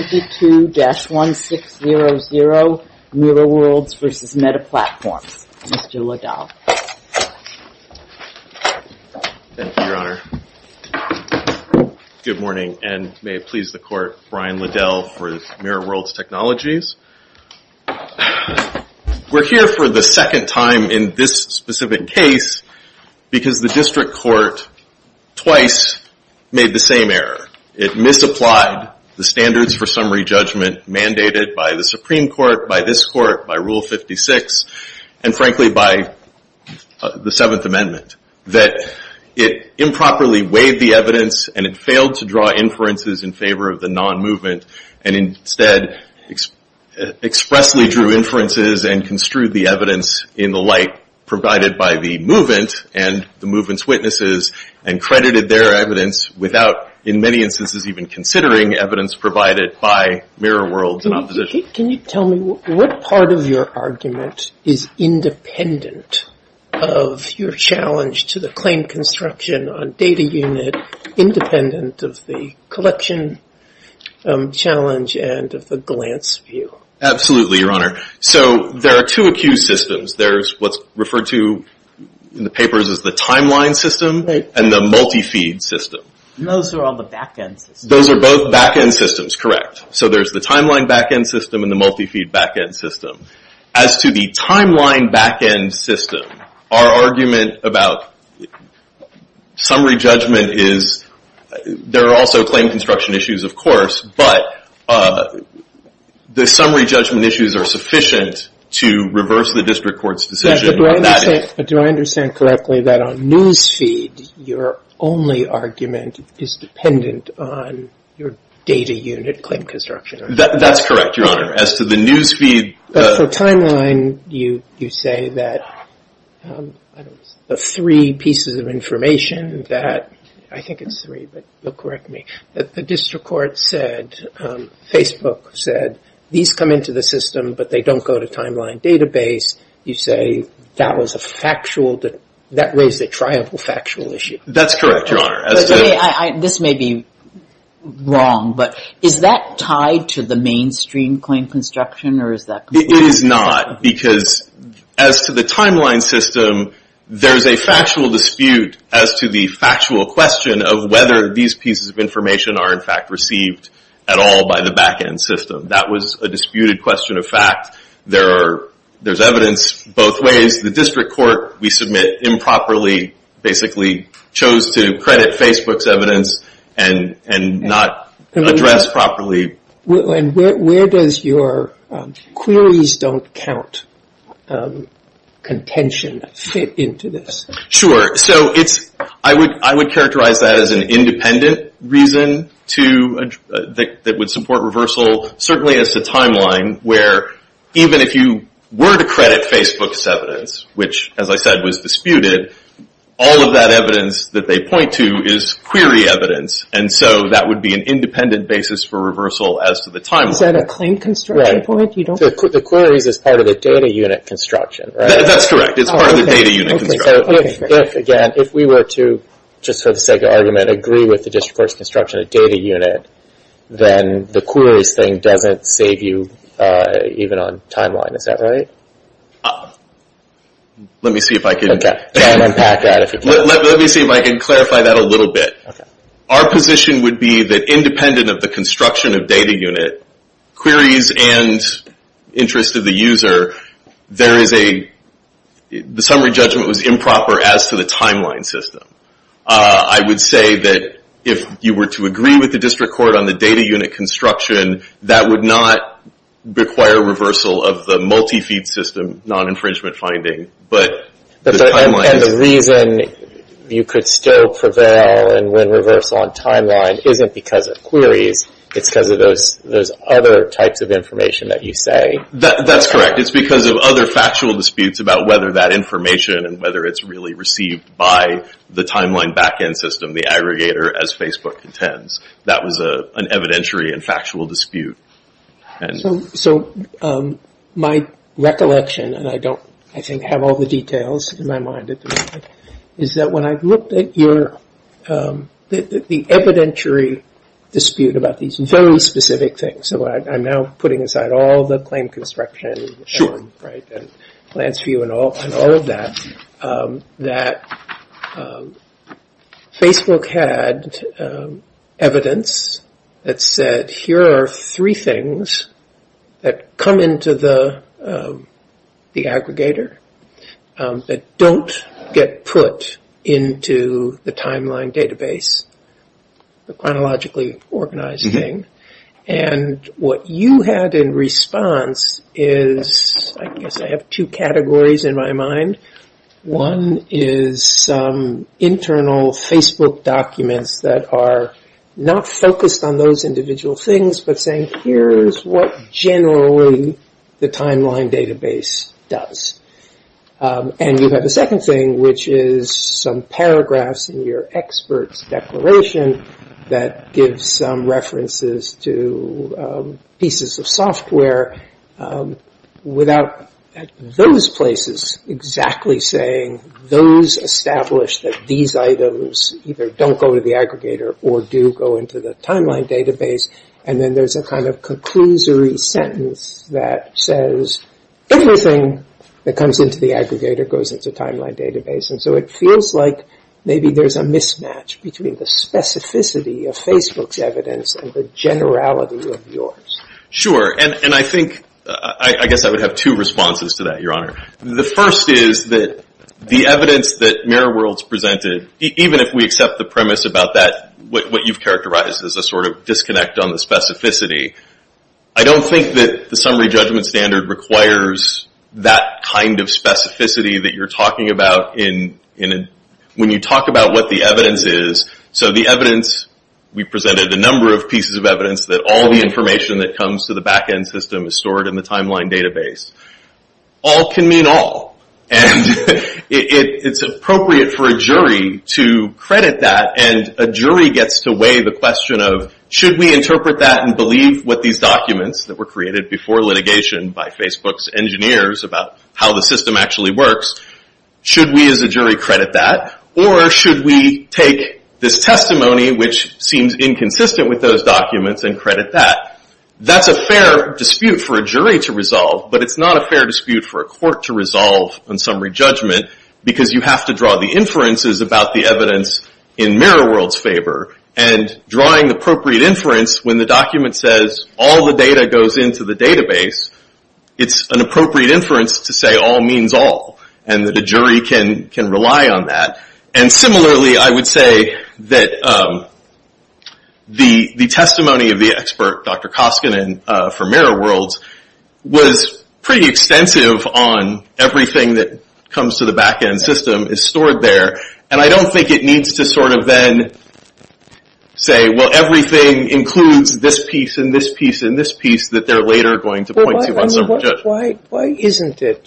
22-1600 Mirror Worlds v. Meta Platforms. Mr. Liddell. Thank you, Your Honor. Good morning, and may it please the Court, Brian Liddell for Mirror Worlds Technologies. We're here for the second time in this specific case because the District Court twice made the same error. It misapplied the standards for summary judgment mandated by the Supreme Court, by this Court, by Rule 56, and frankly by the Seventh Amendment. That it improperly weighed the evidence and it failed to draw inferences in favor of the non-movement, and instead expressly drew inferences and construed the evidence in the light provided by the movement and the movement's witnesses, and credited their evidence without, in many instances, even considering evidence provided by Mirror Worlds and opposition. Can you tell me what part of your argument is independent of your challenge to the claim construction on data unit, independent of the collection challenge and of the glance view? Absolutely, Your Honor. So there are two accused systems. There's what's referred to in the papers as the timeline system. And the multi-feed system. And those are all the back-end systems. Those are both back-end systems, correct. So there's the timeline back-end system and the multi-feed back-end system. As to the timeline back-end system, our argument about summary judgment is there are also claim construction issues, of course, but the summary judgment issues are sufficient to reverse the District Court's decision on that issue. But do I understand correctly that on News Feed, your only argument is dependent on your data unit claim construction? That's correct, Your Honor. As to the News Feed... But for timeline, you say that the three pieces of information that, I think it's three, but you'll correct me, that the District Court said, Facebook said, these come into the system, but they don't go to timeline database. You say that was a factual, that raised a triumphal factual issue. That's correct, Your Honor. This may be wrong, but is that tied to the mainstream claim construction, or is that completely... It is not, because as to the timeline system, there's a factual dispute as to the factual question of whether these pieces of information are in fact received at all by the back-end system. That was a disputed question of fact. There's evidence both ways. The District Court, we submit improperly, basically chose to credit Facebook's evidence and not address properly. Where does your queries don't count contention fit into this? Sure. I would characterize that as an independent reason that would support reversal, certainly as to timeline, where even if you were to credit Facebook's evidence, which, as I said, was disputed, all of that evidence that they point to is query evidence. That would be an independent basis for reversal as to the timeline. Is that a claim construction point? The queries is part of the data unit construction, right? That's correct. It's part of the data unit construction. If, again, if we were to, just for the sake of argument, agree with the District Court's construction of data unit, then the queries thing doesn't save you even on timeline. Is that right? Let me see if I can... Okay. Try and unpack that if you can. Let me see if I can clarify that a little bit. Our position would be that independent of the construction of data unit, queries and interest of the user, there is a...the summary judgment was improper as to the timeline system. I would say that if you were to agree with the District Court on the data unit construction, that would not require reversal of the multi-feed system, non-infringement finding, but the timeline... And the reason you could still prevail and win reversal on timeline isn't because of queries. It's because of those other types of information that you say. That's correct. It's because of other factual disputes about whether that information and whether it's really received by the timeline backend system, the aggregator, as Facebook intends. That was an evidentiary and factual dispute. So my recollection, and I don't, I think, have all the details in my mind at the moment, is that when I looked at your...the evidentiary dispute about these very specific things, so I'm now putting aside all the claim construction... Right, and plans for you and all of that, that Facebook had evidence that said, here are three things that come into the aggregator that don't get put into the timeline database, the chronologically organized thing. And what you had in response is, I guess I have two categories in my mind. One is some internal Facebook documents that are not focused on those individual things, but saying, here's what generally the timeline database does. And you have a second thing, which is some paragraphs in your expert's declaration that gives some references to pieces of software without, at those places, exactly saying those established that these items either don't go to the aggregator or do go into the timeline database. And then there's a kind of conclusory sentence that says, everything that comes into the aggregator goes into the timeline database. And so it feels like maybe there's a mismatch between the specificity of Facebook's evidence and the generality of yours. Sure, and I think, I guess I would have two responses to that, Your Honor. The first is that the evidence that Mirror World's presented, even if we accept the premise about that, what you've characterized as a sort of disconnect on the specificity, I don't think that the summary judgment standard requires that kind of specificity that you're talking about when you talk about what the evidence is. So the evidence, we presented a number of pieces of evidence that all the information that comes to the backend system is stored in the timeline database. All can mean all. And it's appropriate for a jury to credit that, and a jury gets to weigh the question of, should we interpret that and believe what these documents that were created before litigation by Facebook's engineers about how the system actually works, should we as a jury credit that? Or should we take this testimony, which seems inconsistent with those documents, and credit that? That's a fair dispute for a jury to resolve, but it's not a fair dispute for a court to resolve on summary judgment because you have to draw the inferences about the evidence in Mirror World's favor. And drawing the appropriate inference when the document says, all the data goes into the database, it's an appropriate inference to say all means all, and that a jury can rely on that. And similarly, I would say that the testimony of the expert, Dr. Koskinen from Mirror World, was pretty extensive on everything that comes to the back end system is stored there. And I don't think it needs to sort of then say, well, everything includes this piece and this piece and this piece that they're later going to point to on summary judgment. Why isn't it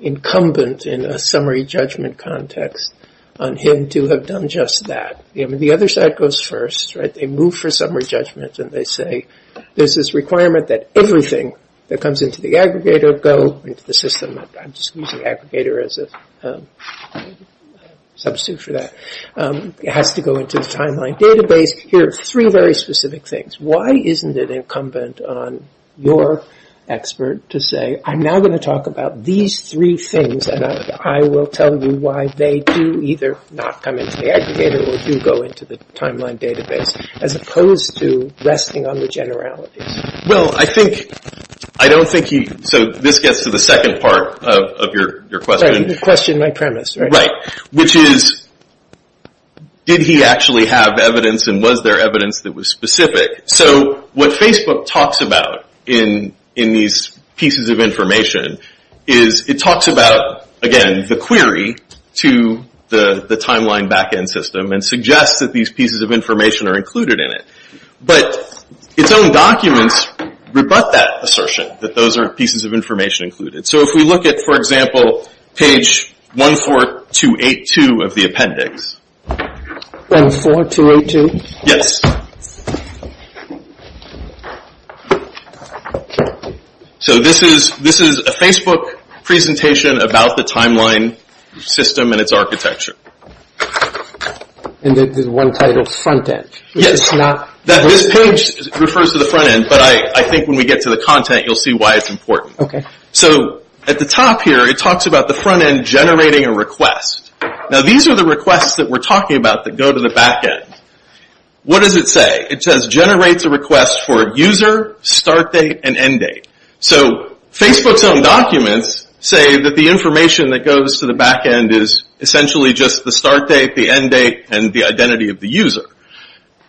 incumbent in a summary judgment context on him to have done just that? The other side goes first, right? They move for summary judgment and they say there's this requirement that everything that comes into the aggregator go into the system. I'm just using aggregator as a substitute for that. It has to go into the timeline database. Here are three very specific things. Why isn't it incumbent on your expert to say, I'm now going to talk about these three things and I will tell you why they do either not come into the aggregator or do go into the timeline database as opposed to resting on the generalities? Well, I think, I don't think he, so this gets to the second part of your question. The question, my premise, right? Which is, did he actually have evidence and was there evidence that was specific? So what Facebook talks about in these pieces of information is, it talks about, again, the query to the timeline back end system and suggests that these pieces of information are included in it. But its own documents rebut that assertion, that those aren't pieces of information included. So if we look at, for example, page 14282 of the appendix. 14282? Yes. So this is a Facebook presentation about the timeline system and its architecture. And there's one titled front end. This page refers to the front end, but I think when we get to the content you'll see why it's important. Okay. So at the top here it talks about the front end generating a request. Now these are the requests that we're talking about that go to the back end. What does it say? It says generates a request for user, start date, and end date. So Facebook's own documents say that the information that goes to the back end is essentially just the start date, the end date, and the identity of the user.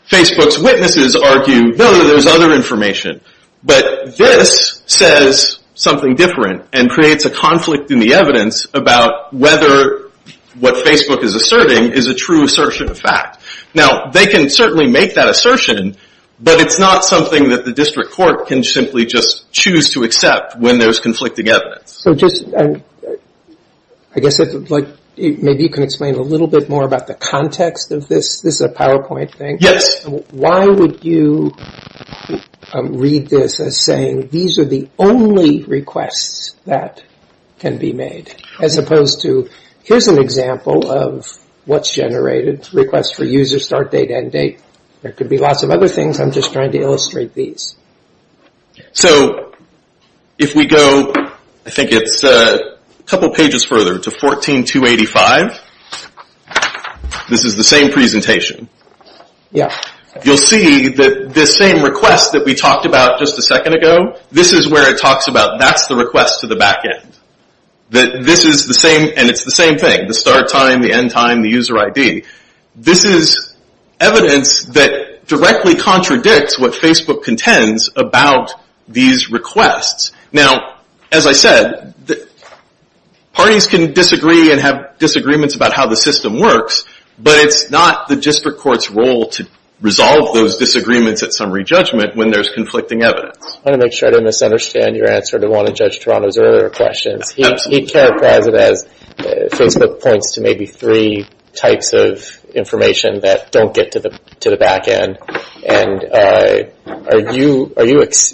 Facebook's witnesses argue, no, there's other information. But this says something different and creates a conflict in the evidence about whether what Facebook is asserting is a true assertion of fact. Now they can certainly make that assertion, but it's not something that the district court can simply just choose to accept when there's conflicting evidence. So just, I guess maybe you can explain a little bit more about the context of this. This is a PowerPoint thing. Yes. Why would you read this as saying these are the only requests that can be made, as opposed to here's an example of what's generated, requests for user, start date, end date. There could be lots of other things. I'm just trying to illustrate these. So if we go, I think it's a couple pages further, to 14-285. This is the same presentation. Yes. You'll see that this same request that we talked about just a second ago, this is where it talks about that's the request to the back end. That this is the same, and it's the same thing, the start time, the end time, the user ID. This is evidence that directly contradicts what Facebook contends about these requests. Now, as I said, parties can disagree and have disagreements about how the system works, but it's not the district court's role to resolve those disagreements at summary judgment when there's conflicting evidence. I want to make sure I don't misunderstand your answer to one of Judge Toronto's earlier questions. He characterized it as Facebook points to maybe three types of information that don't get to the back end. And are you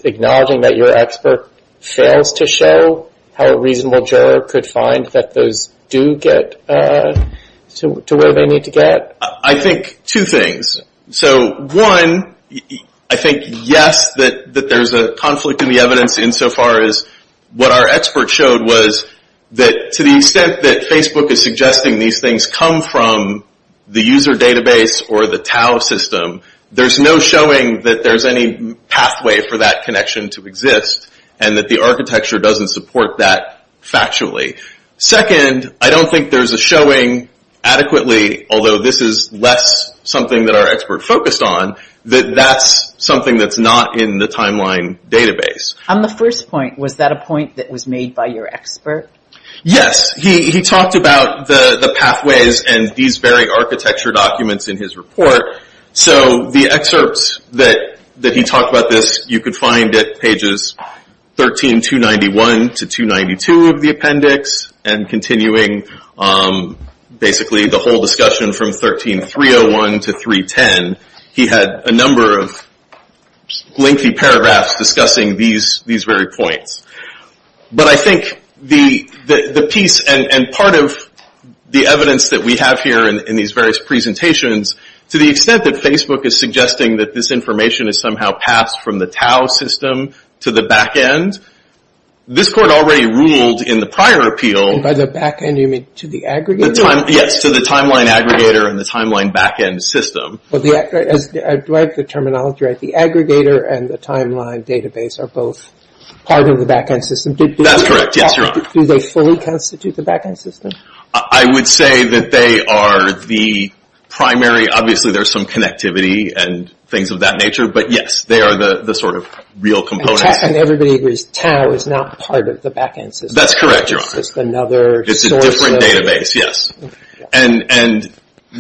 acknowledging that your expert fails to show how a reasonable juror could find that those do get to where they need to get? I think two things. One, I think, yes, that there's a conflict in the evidence in so far as what our expert showed was that to the extent that Facebook is suggesting these things come from the user database or the TAO system, there's no showing that there's any pathway for that connection to exist, and that the architecture doesn't support that factually. Second, I don't think there's a showing adequately, although this is less something that our expert focused on, that that's something that's not in the timeline database. On the first point, was that a point that was made by your expert? Yes. He talked about the pathways and these very architecture documents in his report. So the excerpts that he talked about this, you could find at pages 13291 to 292 of the appendix, and continuing basically the whole discussion from 13301 to 310, he had a number of lengthy paragraphs discussing these very points. But I think the piece and part of the evidence that we have here in these various presentations to the extent that Facebook is suggesting that this information is somehow passed from the TAO system to the back end, this court already ruled in the prior appeal. By the back end, you mean to the aggregator? Yes, to the timeline aggregator and the timeline back end system. Do I have the terminology right? The aggregator and the timeline database are both part of the back end system. That's correct. Yes, you're on. Do they fully constitute the back end system? I would say that they are the primary, obviously there's some connectivity and things of that nature, but yes, they are the sort of real components. And everybody agrees TAO is not part of the back end system. That's correct, you're on. It's just another source. It's a different database, yes. And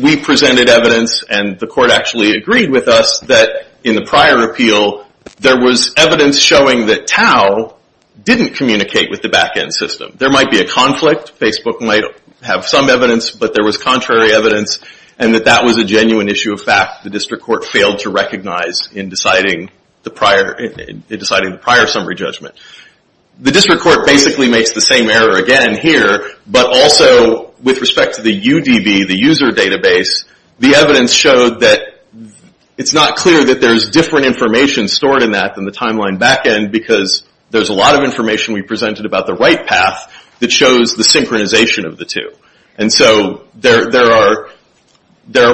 we presented evidence and the court actually agreed with us that in the prior appeal, there was evidence showing that TAO didn't communicate with the back end system. There might be a conflict. Facebook might have some evidence, but there was contrary evidence, and that that was a genuine issue of fact. The district court failed to recognize in deciding the prior summary judgment. The district court basically makes the same error again here, but also with respect to the UDB, the user database, the evidence showed that it's not clear that there's different information stored in that than the timeline back end because there's a lot of information we presented about the right path that shows the synchronization of the two. And so there are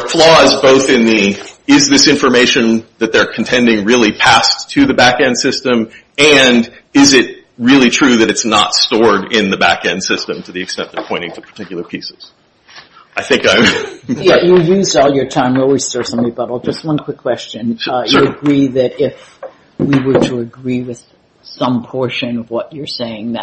flaws both in the, is this information that they're contending really passed to the back end system, and is it really true that it's not stored in the back end system to the extent they're pointing to particular pieces. I think I'm... Yeah, you used all your time. We'll restore some rebuttal. Just one quick question. Sure. I would agree that if we were to agree with some portion of what you're saying,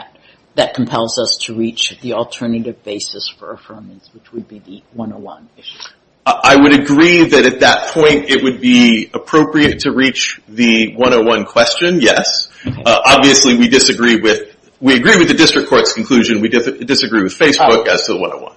that compels us to reach the alternative basis for affirmance, which would be the 101 issue. I would agree that at that point, it would be appropriate to reach the 101 question, yes. Obviously, we disagree with, we agree with the district court's conclusion. We disagree with Facebook as to the 101.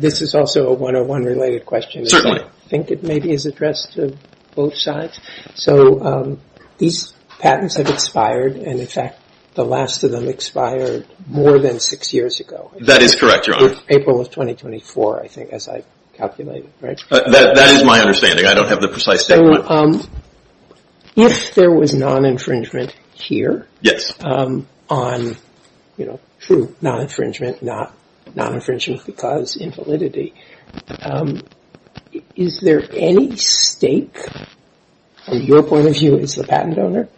This is also a 101 related question. I think it maybe is addressed to both sides. So these patents have expired, and in fact, the last of them expired more than six years ago. That is correct, Your Honor. April of 2024, I think, as I calculated, right? That is my understanding. I don't have the precise statement. So if there was non-infringement here... Yes. ...on true non-infringement, not non-infringement because invalidity, is there any stake, from your point of view as the patent owner,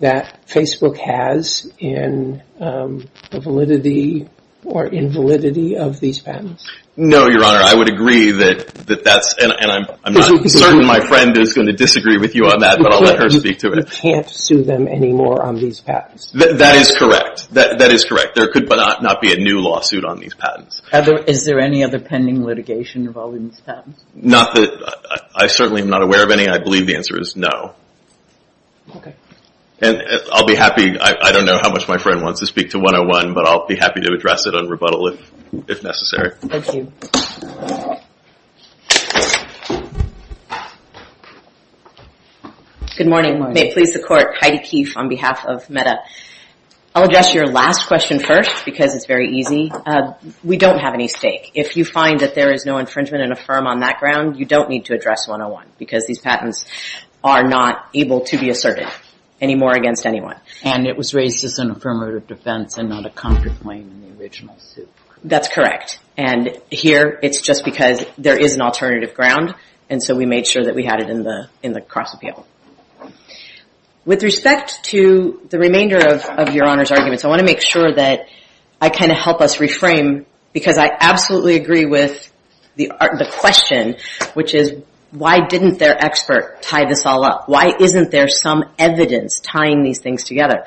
that Facebook has in the validity or invalidity of these patents? No, Your Honor. I would agree that that's, and I'm not certain my friend is going to disagree with you on that, but I'll let her speak to it. Facebook can't sue them anymore on these patents? That is correct. That is correct. There could not be a new lawsuit on these patents. Is there any other pending litigation involving these patents? Not that I certainly am not aware of any. I believe the answer is no. Okay. And I'll be happy. I don't know how much my friend wants to speak to 101, but I'll be happy to address it on rebuttal if necessary. Thank you. Good morning. May it please the Court. Heidi Keefe on behalf of Meta. I'll address your last question first because it's very easy. We don't have any stake. If you find that there is no infringement in a firm on that ground, you don't need to address 101 because these patents are not able to be asserted anymore against anyone. And it was raised as an affirmative defense and not a comfort claim in the original suit. That's correct. And here it's just because there is an alternative ground, and so we made sure that we had it in the cross-appeal. With respect to the remainder of your Honor's arguments, I want to make sure that I can help us reframe because I absolutely agree with the question, which is why didn't their expert tie this all up? Why isn't there some evidence tying these things together?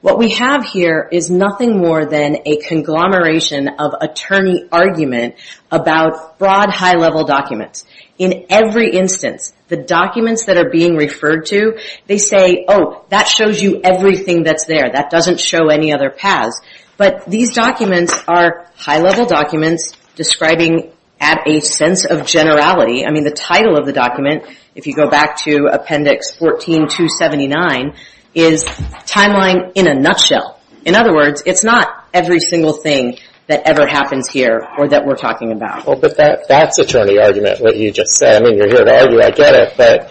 What we have here is nothing more than a conglomeration of attorney argument about broad, high-level documents. In every instance, the documents that are being referred to, they say, oh, that shows you everything that's there. That doesn't show any other paths. But these documents are high-level documents describing at a sense of generality. I mean, the title of the document, if you go back to Appendix 14-279, is Timeline in a Nutshell. In other words, it's not every single thing that ever happens here or that we're talking about. But that's attorney argument, what you just said. I mean, you're here to argue. I get it. But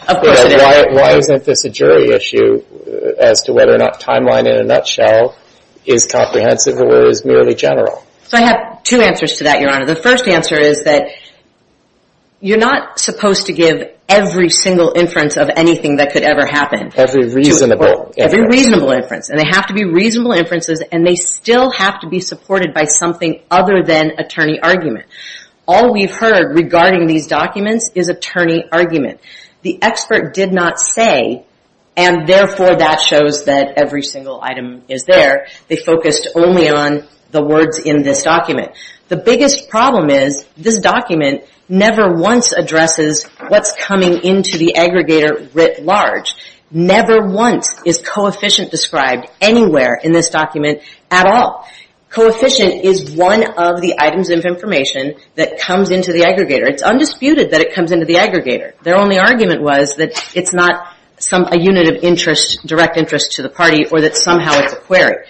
why isn't this a jury issue as to whether or not Timeline in a Nutshell is comprehensive or is merely general? I have two answers to that, Your Honor. The first answer is that you're not supposed to give every single inference of anything that could ever happen. Every reasonable inference. Every reasonable inference. And they have to be reasonable inferences, and they still have to be supported by something other than attorney argument. All we've heard regarding these documents is attorney argument. The expert did not say, and therefore that shows that every single item is there. They focused only on the words in this document. The biggest problem is this document never once addresses what's coming into the aggregator writ large. Never once is coefficient described anywhere in this document at all. Coefficient is one of the items of information that comes into the aggregator. It's undisputed that it comes into the aggregator. Their only argument was that it's not a unit of interest, direct interest to the party, or that somehow it's a query.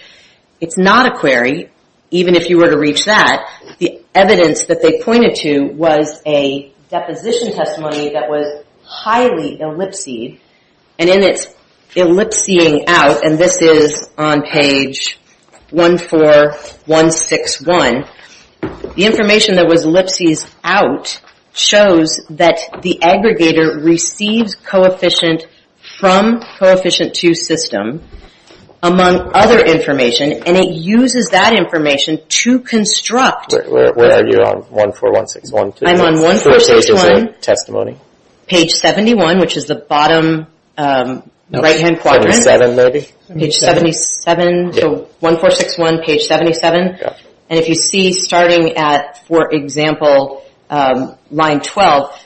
It's not a query, even if you were to reach that. The evidence that they pointed to was a deposition testimony that was highly ellipsed. And in its ellipsing out, and this is on page 14161, the information that was ellipsed out shows that the aggregator receives coefficient from coefficient 2 system. Among other information, and it uses that information to construct. Where are you on 14161? I'm on 1461. Which page is it? Testimony. Page 71, which is the bottom right-hand quadrant. 77 maybe. Page 77, so 1461, page 77. And if you see starting at, for example, line 12,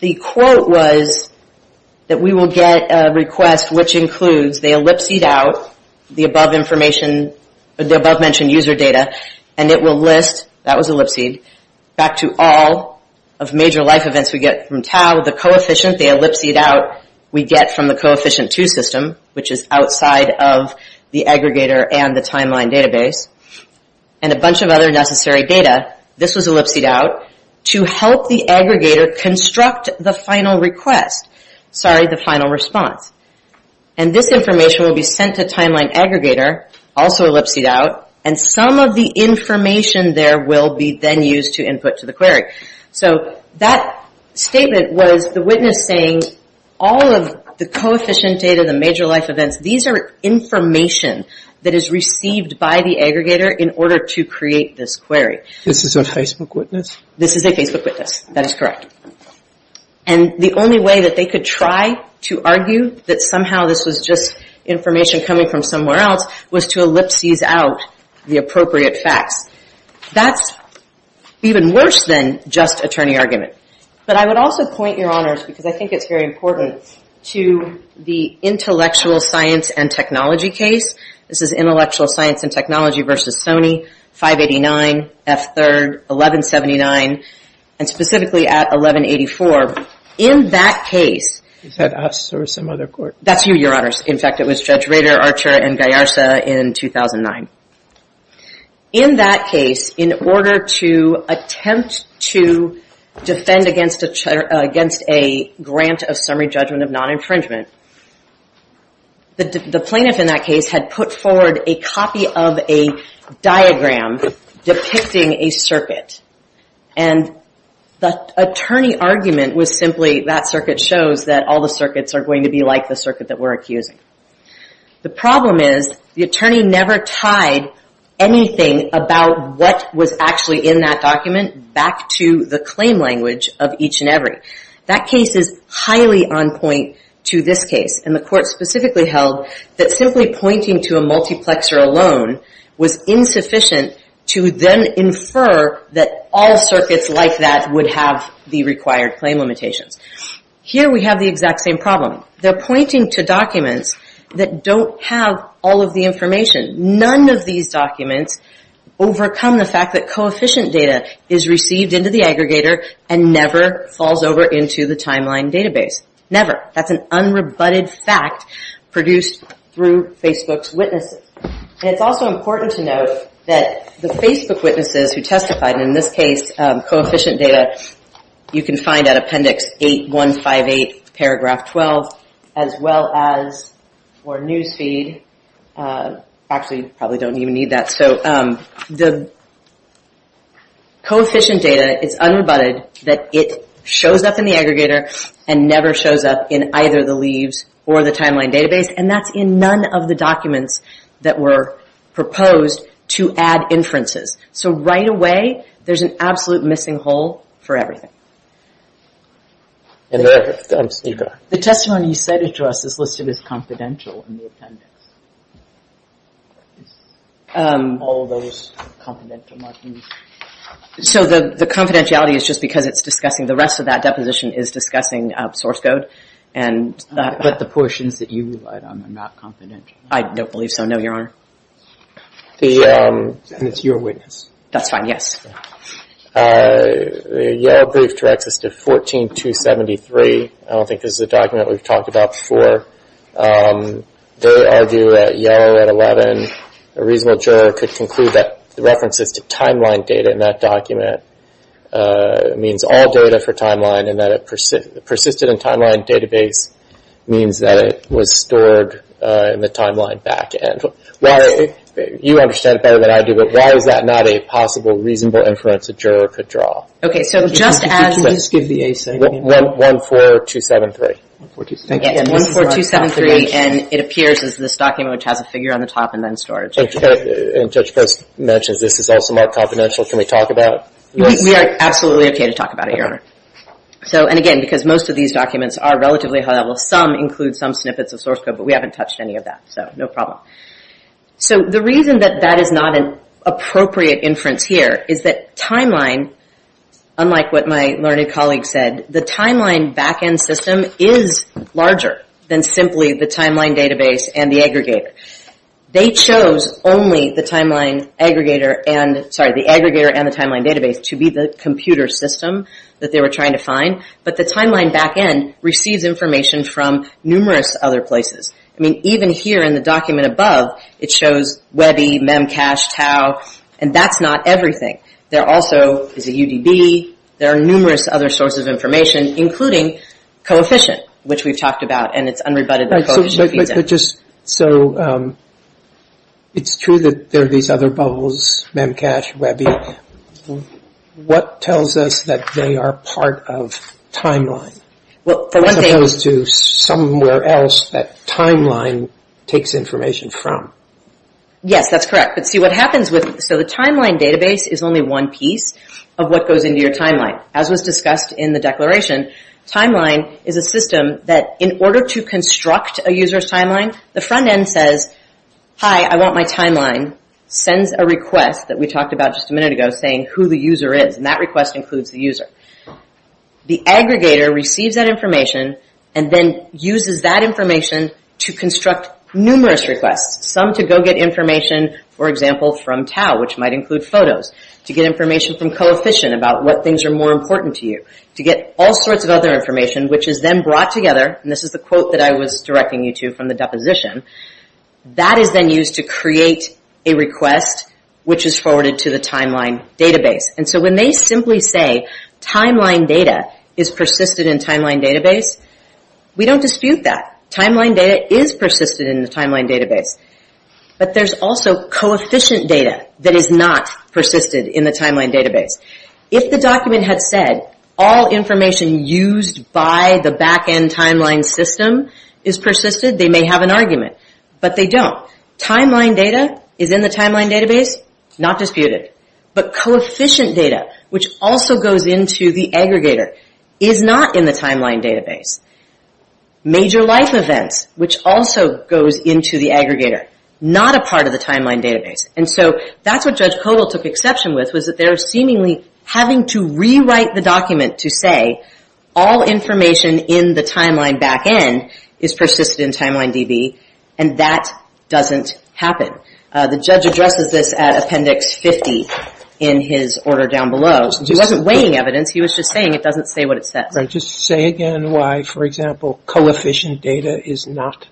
the quote was that we will get a request which includes the ellipsed out, the above-mentioned user data, and it will list, that was ellipsed, back to all of major life events we get from tau, the coefficient they ellipsed out we get from the coefficient 2 system, which is outside of the aggregator and the timeline database. And a bunch of other necessary data, this was ellipsed out, to help the aggregator construct the final request. Sorry, the final response. And this information will be sent to timeline aggregator, also ellipsed out, and some of the information there will be then used to input to the query. So that statement was the witness saying all of the coefficient data, the major life events, these are information that is received by the aggregator in order to create this query. This is a Facebook witness? This is a Facebook witness. That is correct. And the only way that they could try to argue that somehow this was just information coming from somewhere else was to ellipses out the appropriate facts. That's even worse than just attorney argument. But I would also point your honors, because I think it's very important, to the intellectual science and technology case. This is intellectual science and technology versus Sony, 589, F3rd, 1179, and specifically at 1184. In that case... Is that us or some other court? That's you, your honors. In fact, it was Judge Rader, Archer, and Gallarza in 2009. In that case, in order to attempt to defend against a grant of summary judgment of non-infringement, the plaintiff in that case had put forward a copy of a diagram depicting a circuit. And the attorney argument was simply that circuit shows that all the circuits are going to be like the circuit that we're accusing. The problem is the attorney never tied anything about what was actually in that document back to the claim language of each and every. That case is highly on point to this case. And the court specifically held that simply pointing to a multiplexer alone was insufficient to then infer that all circuits like that would have the required claim limitations. Here we have the exact same problem. They're pointing to documents that don't have all of the information. None of these documents overcome the fact that coefficient data is received into the aggregator and never falls over into the timeline database. Never. That's an unrebutted fact produced through Facebook's witnesses. And it's also important to note that the Facebook witnesses who testified, in this case, coefficient data, you can find at appendix 8158, paragraph 12, as well as news feed. Actually, you probably don't even need that. So the coefficient data, it's unrebutted that it shows up in the aggregator and never shows up in either the leaves or the timeline database. And that's in none of the documents that were proposed to add inferences. So right away, there's an absolute missing hole for everything. The testimony you cited to us is listed as confidential in the appendix. All of those confidential markings. So the confidentiality is just because it's discussing the rest of that deposition is discussing source code. But the portions that you relied on are not confidential. I don't believe so, no, Your Honor. And it's your witness. That's fine, yes. The yellow brief directs us to 14-273. I don't think this is a document we've talked about before. They argue that yellow at 11, a reasonable juror could conclude that the references to timeline data in that document means all data for timeline and that it persisted in timeline database means that it was stored in the timeline back end. You understand it better than I do, but why is that not a possible reasonable inference a juror could draw? Okay, so just as... Can you just give the ASAP? 14-273. Again, 14-273, and it appears as this document which has a figure on the top and then storage. And Judge Post mentions this is also marked confidential. Can we talk about it? We are absolutely okay to talk about it, Your Honor. And again, because most of these documents are relatively high level. Some include some snippets of source code, but we haven't touched any of that, so no problem. So the reason that that is not an appropriate inference here is that timeline, unlike what my learned colleague said, the timeline back end system is larger than simply the timeline database and the aggregator. They chose only the timeline aggregator and the timeline database to be the computer system that they were trying to find, but the timeline back end receives information from numerous other places. I mean, even here in the document above, it shows Webby, Memcache, Tau, and that's not everything. There also is a UDB. There are numerous other sources of information, including coefficient, which we've talked about, and it's unrebutted in the coefficient feedback. So it's true that there are these other bubbles, Memcache, Webby. What tells us that they are part of timeline, as opposed to somewhere else that timeline takes information from? Yes, that's correct. But see what happens with it, so the timeline database is only one piece of what goes into your timeline. As was discussed in the declaration, timeline is a system that in order to construct a user's timeline, the front end says, hi, I want my timeline, sends a request that we talked about just a minute ago saying who the user is, and that request includes the user. The aggregator receives that information and then uses that information to construct numerous requests, some to go get information, for example, from Tau, which might include photos, to get information from coefficient about what things are more important to you, to get all sorts of other information, which is then brought together, and this is the quote that I was directing you to from the deposition, that is then used to create a request which is forwarded to the timeline database. And so when they simply say timeline data is persisted in timeline database, we don't dispute that. Timeline data is persisted in the timeline database. But there's also coefficient data that is not persisted in the timeline database. If the document had said all information used by the back end timeline system is persisted, they may have an argument, but they don't. Timeline data is in the timeline database, not disputed. But coefficient data, which also goes into the aggregator, is not in the timeline database. Major life events, which also goes into the aggregator, not a part of the timeline database. And so that's what Judge Kodal took exception with, was that they're seemingly having to rewrite the document to say, all information in the timeline back end is persisted in timeline DB, and that doesn't happen. The judge addresses this at appendix 50 in his order down below. He wasn't weighing evidence. He was just saying it doesn't say what it says. Just say again why, for example, coefficient data is not,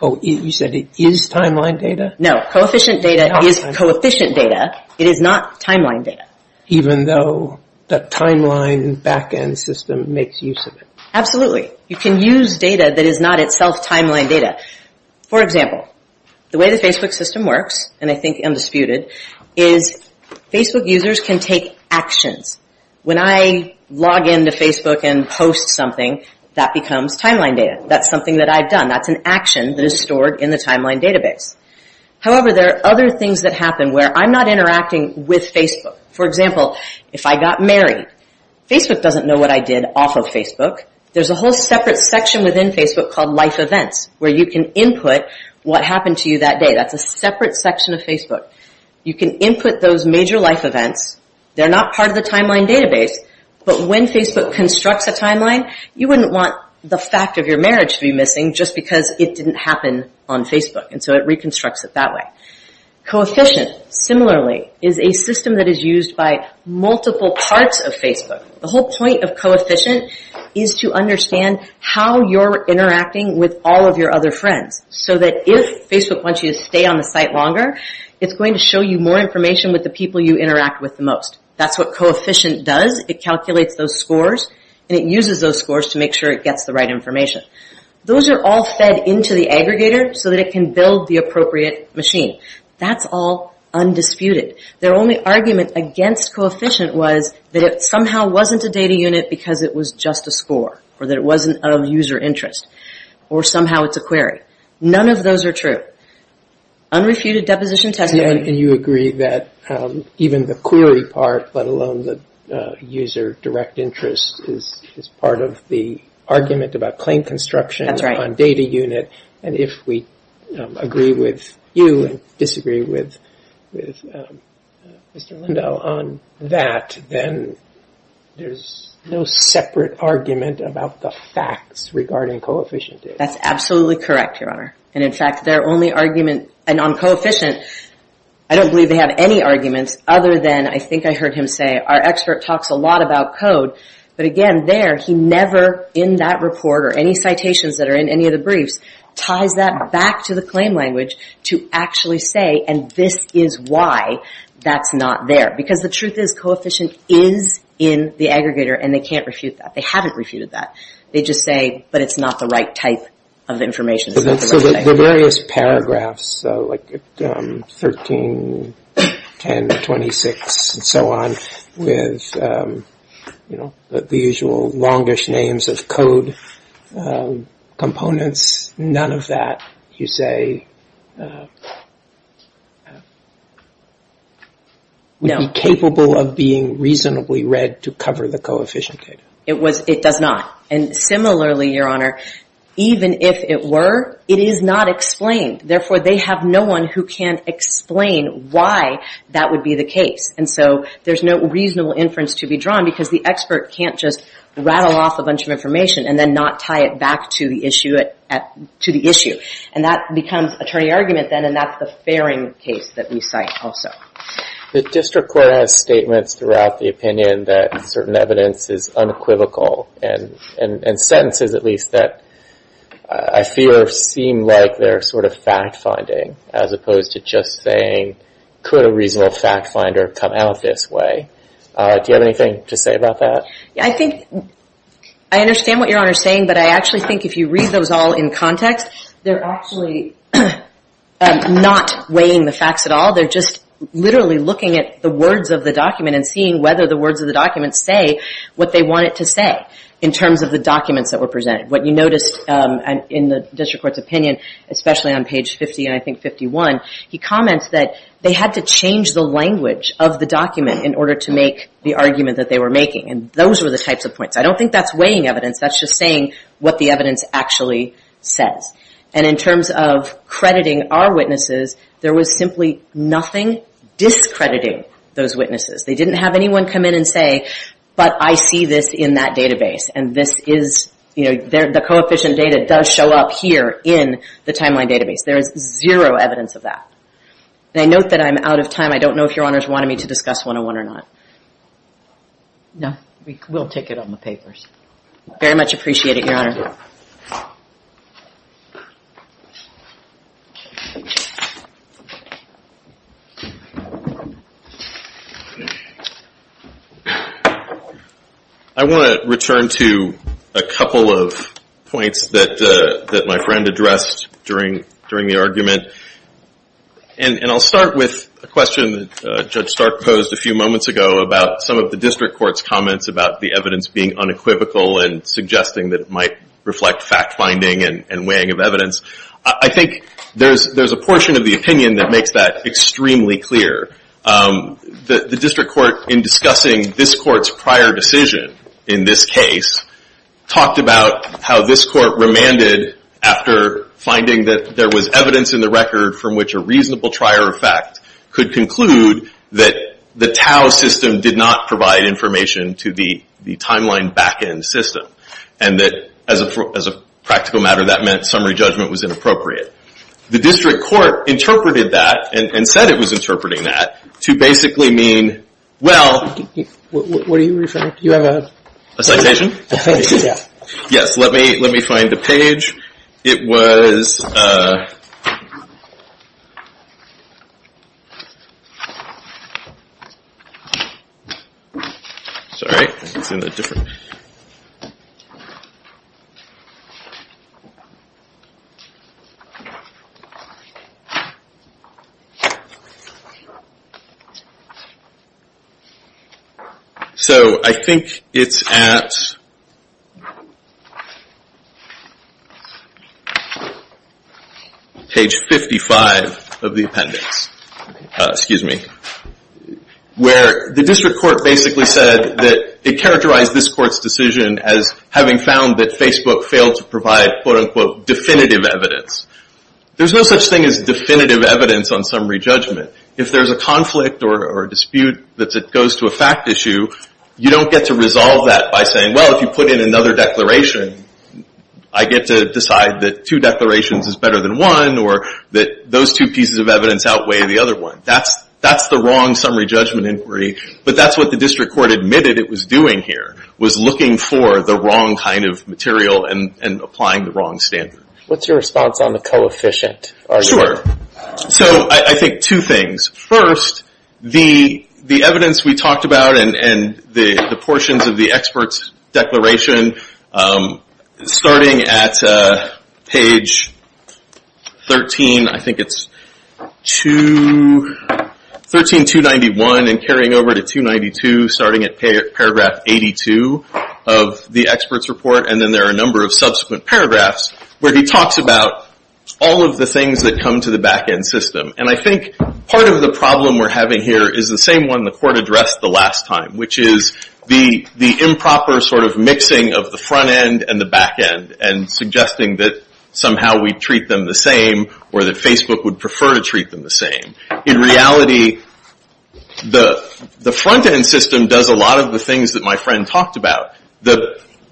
oh, you said it is timeline data? No, coefficient data is coefficient data. It is not timeline data. Even though the timeline back end system makes use of it. Absolutely. You can use data that is not itself timeline data. For example, the way the Facebook system works, and I think undisputed, is Facebook users can take actions. When I log into Facebook and post something, that becomes timeline data. That's something that I've done. That's an action that is stored in the timeline database. However, there are other things that happen where I'm not interacting with Facebook. For example, if I got married, Facebook doesn't know what I did off of Facebook. There's a whole separate section within Facebook called Life Events, where you can input what happened to you that day. That's a separate section of Facebook. You can input those major life events. They're not part of the timeline database, but when Facebook constructs a timeline, you wouldn't want the fact of your marriage to be missing just because it didn't happen on Facebook. It reconstructs it that way. Coefficient, similarly, is a system that is used by multiple parts of Facebook. The whole point of coefficient is to understand how you're interacting with all of your other friends, so that if Facebook wants you to stay on the site longer, it's going to show you more information with the people you interact with the most. That's what coefficient does. It calculates those scores, and it uses those scores to make sure it gets the right information. Those are all fed into the aggregator so that it can build the appropriate machine. That's all undisputed. Their only argument against coefficient was that it somehow wasn't a data unit because it was just a score, or that it wasn't of user interest, or somehow it's a query. None of those are true. Unrefuted deposition testimony. You agree that even the query part, let alone the user direct interest, is part of the argument about claim construction on data unit. If we agree with you and disagree with Mr. Lindau on that, then there's no separate argument about the facts regarding coefficient data. That's absolutely correct, Your Honor. In fact, their only argument on coefficient, I don't believe they have any arguments other than, I think I heard him say, our expert talks a lot about code. But again, there, he never, in that report or any citations that are in any of the briefs, ties that back to the claim language to actually say, and this is why that's not there. Because the truth is, coefficient is in the aggregator, and they can't refute that. They haven't refuted that. They just say, but it's not the right type of information. So the various paragraphs, like 13, 10, 26, and so on, with the usual longish names of code components, none of that you say would be capable of being reasonably read to cover the coefficient data. It does not. And similarly, Your Honor, even if it were, it is not explained. Therefore, they have no one who can explain why that would be the case. And so there's no reasonable inference to be drawn because the expert can't just rattle off a bunch of information and then not tie it back to the issue. And that becomes attorney argument then, and that's the fairing case that we cite also. The district court has statements throughout the opinion that certain evidence is unequivocal, and sentences, at least, that I fear seem like they're sort of fact-finding, as opposed to just saying, could a reasonable fact-finder come out this way? Do you have anything to say about that? I think I understand what Your Honor is saying, but I actually think if you read those all in context, they're actually not weighing the facts at all. They're just literally looking at the words of the document and seeing whether the words of the document say what they want it to say, in terms of the documents that were presented. What you noticed in the district court's opinion, especially on page 50 and I think 51, he comments that they had to change the language of the document in order to make the argument that they were making, and those were the types of points. I don't think that's weighing evidence. That's just saying what the evidence actually says. And in terms of crediting our witnesses, there was simply nothing discrediting those witnesses. They didn't have anyone come in and say, but I see this in that database, and this is, you know, the coefficient data does show up here in the timeline database. There is zero evidence of that. And I note that I'm out of time. I don't know if Your Honor is wanting me to discuss 101 or not. No, we'll take it on the papers. Very much appreciate it, Your Honor. I want to return to a couple of points that my friend addressed during the argument. And I'll start with a question that Judge Stark posed a few moments ago about some of the district court's comments about the evidence being unequivocal and suggesting that it might reflect fact-finding and weighing of evidence. I think there's a portion of the opinion that makes that extremely clear. The district court, in discussing this court's prior decision in this case, talked about how this court remanded after finding that there was evidence in the record from which a reasonable trier of fact could conclude that the TAO system did not provide information to the timeline back-end system. And that, as a practical matter, that meant summary judgment was inappropriate. The district court interpreted that, and said it was interpreting that, to basically mean, well... What are you referring to? Do you have a... A citation? A citation, yeah. Yes, let me find a page. It was... Sorry, I think it's in a different... So, I think it's at... Page 55 of the appendix. Excuse me. Where the district court basically said that it characterized this court's decision as having found that Facebook failed to provide, quote-unquote, definitive evidence. There's no such thing as definitive evidence on summary judgment. If there's a conflict or dispute that goes to a fact issue, you don't get to resolve that by saying, well, if you put in another declaration, I get to decide that two declarations is better than one, or that those two pieces of evidence outweigh the other one. That's the wrong summary judgment inquiry. But that's what the district court admitted it was doing here, was looking for the wrong kind of material and applying the wrong standard. What's your response on the coefficient argument? Sure. So, I think two things. First, the evidence we talked about and the portions of the expert's declaration starting at page 13. I think it's 13291 and carrying over to 292, starting at paragraph 82 of the expert's report. And then there are a number of subsequent paragraphs where he talks about all of the things that come to the back-end system. And I think part of the problem we're having here is the same one the court addressed the last time, which is the improper sort of mixing of the front-end and the back-end and suggesting that somehow we treat them the same or that Facebook would prefer to treat them the same. In reality, the front-end system does a lot of the things that my friend talked about.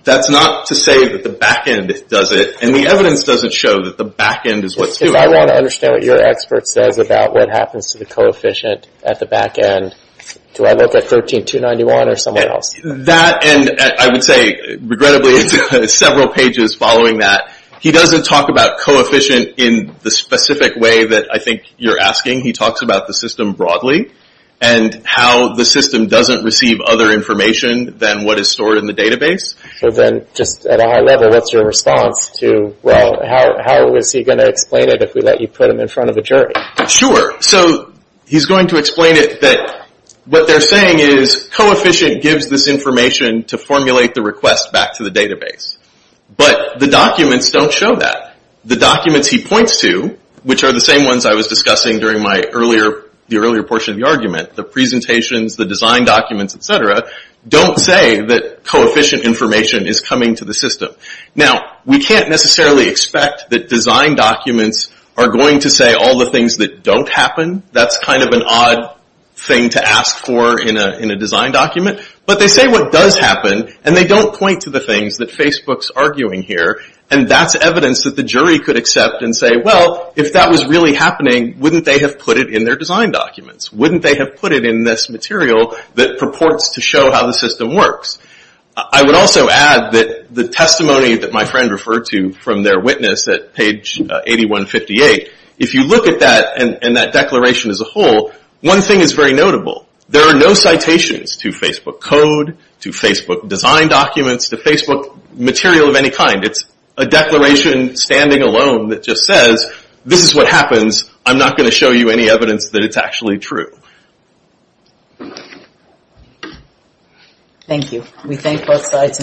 That's not to say that the back-end does it, and the evidence doesn't show that the back-end is what's doing it. I want to understand what your expert says about what happens to the coefficient at the back-end. Do I look at 13291 or somewhere else? That, and I would say, regrettably, it's several pages following that. He doesn't talk about coefficient in the specific way that I think you're asking. He talks about the system broadly and how the system doesn't receive other information than what is stored in the database. So then just at a high level, what's your response to, well, how is he going to explain it if we let you put him in front of a jury? Sure. So he's going to explain it that what they're saying is coefficient gives this information to formulate the request back to the database. But the documents don't show that. The documents he points to, which are the same ones I was discussing during the earlier portion of the argument, the presentations, the design documents, et cetera, don't say that coefficient information is coming to the system. Now, we can't necessarily expect that design documents are going to say all the things that don't happen. That's kind of an odd thing to ask for in a design document. But they say what does happen, and they don't point to the things that Facebook's arguing here. And that's evidence that the jury could accept and say, well, if that was really happening, wouldn't they have put it in their design documents? Wouldn't they have put it in this material that purports to show how the system works? I would also add that the testimony that my friend referred to from their witness at page 8158, if you look at that and that declaration as a whole, one thing is very notable. There are no citations to Facebook code, to Facebook design documents, to Facebook material of any kind. It's a declaration standing alone that just says, this is what happens. I'm not going to show you any evidence that it's actually true. Thank you. We thank both sides.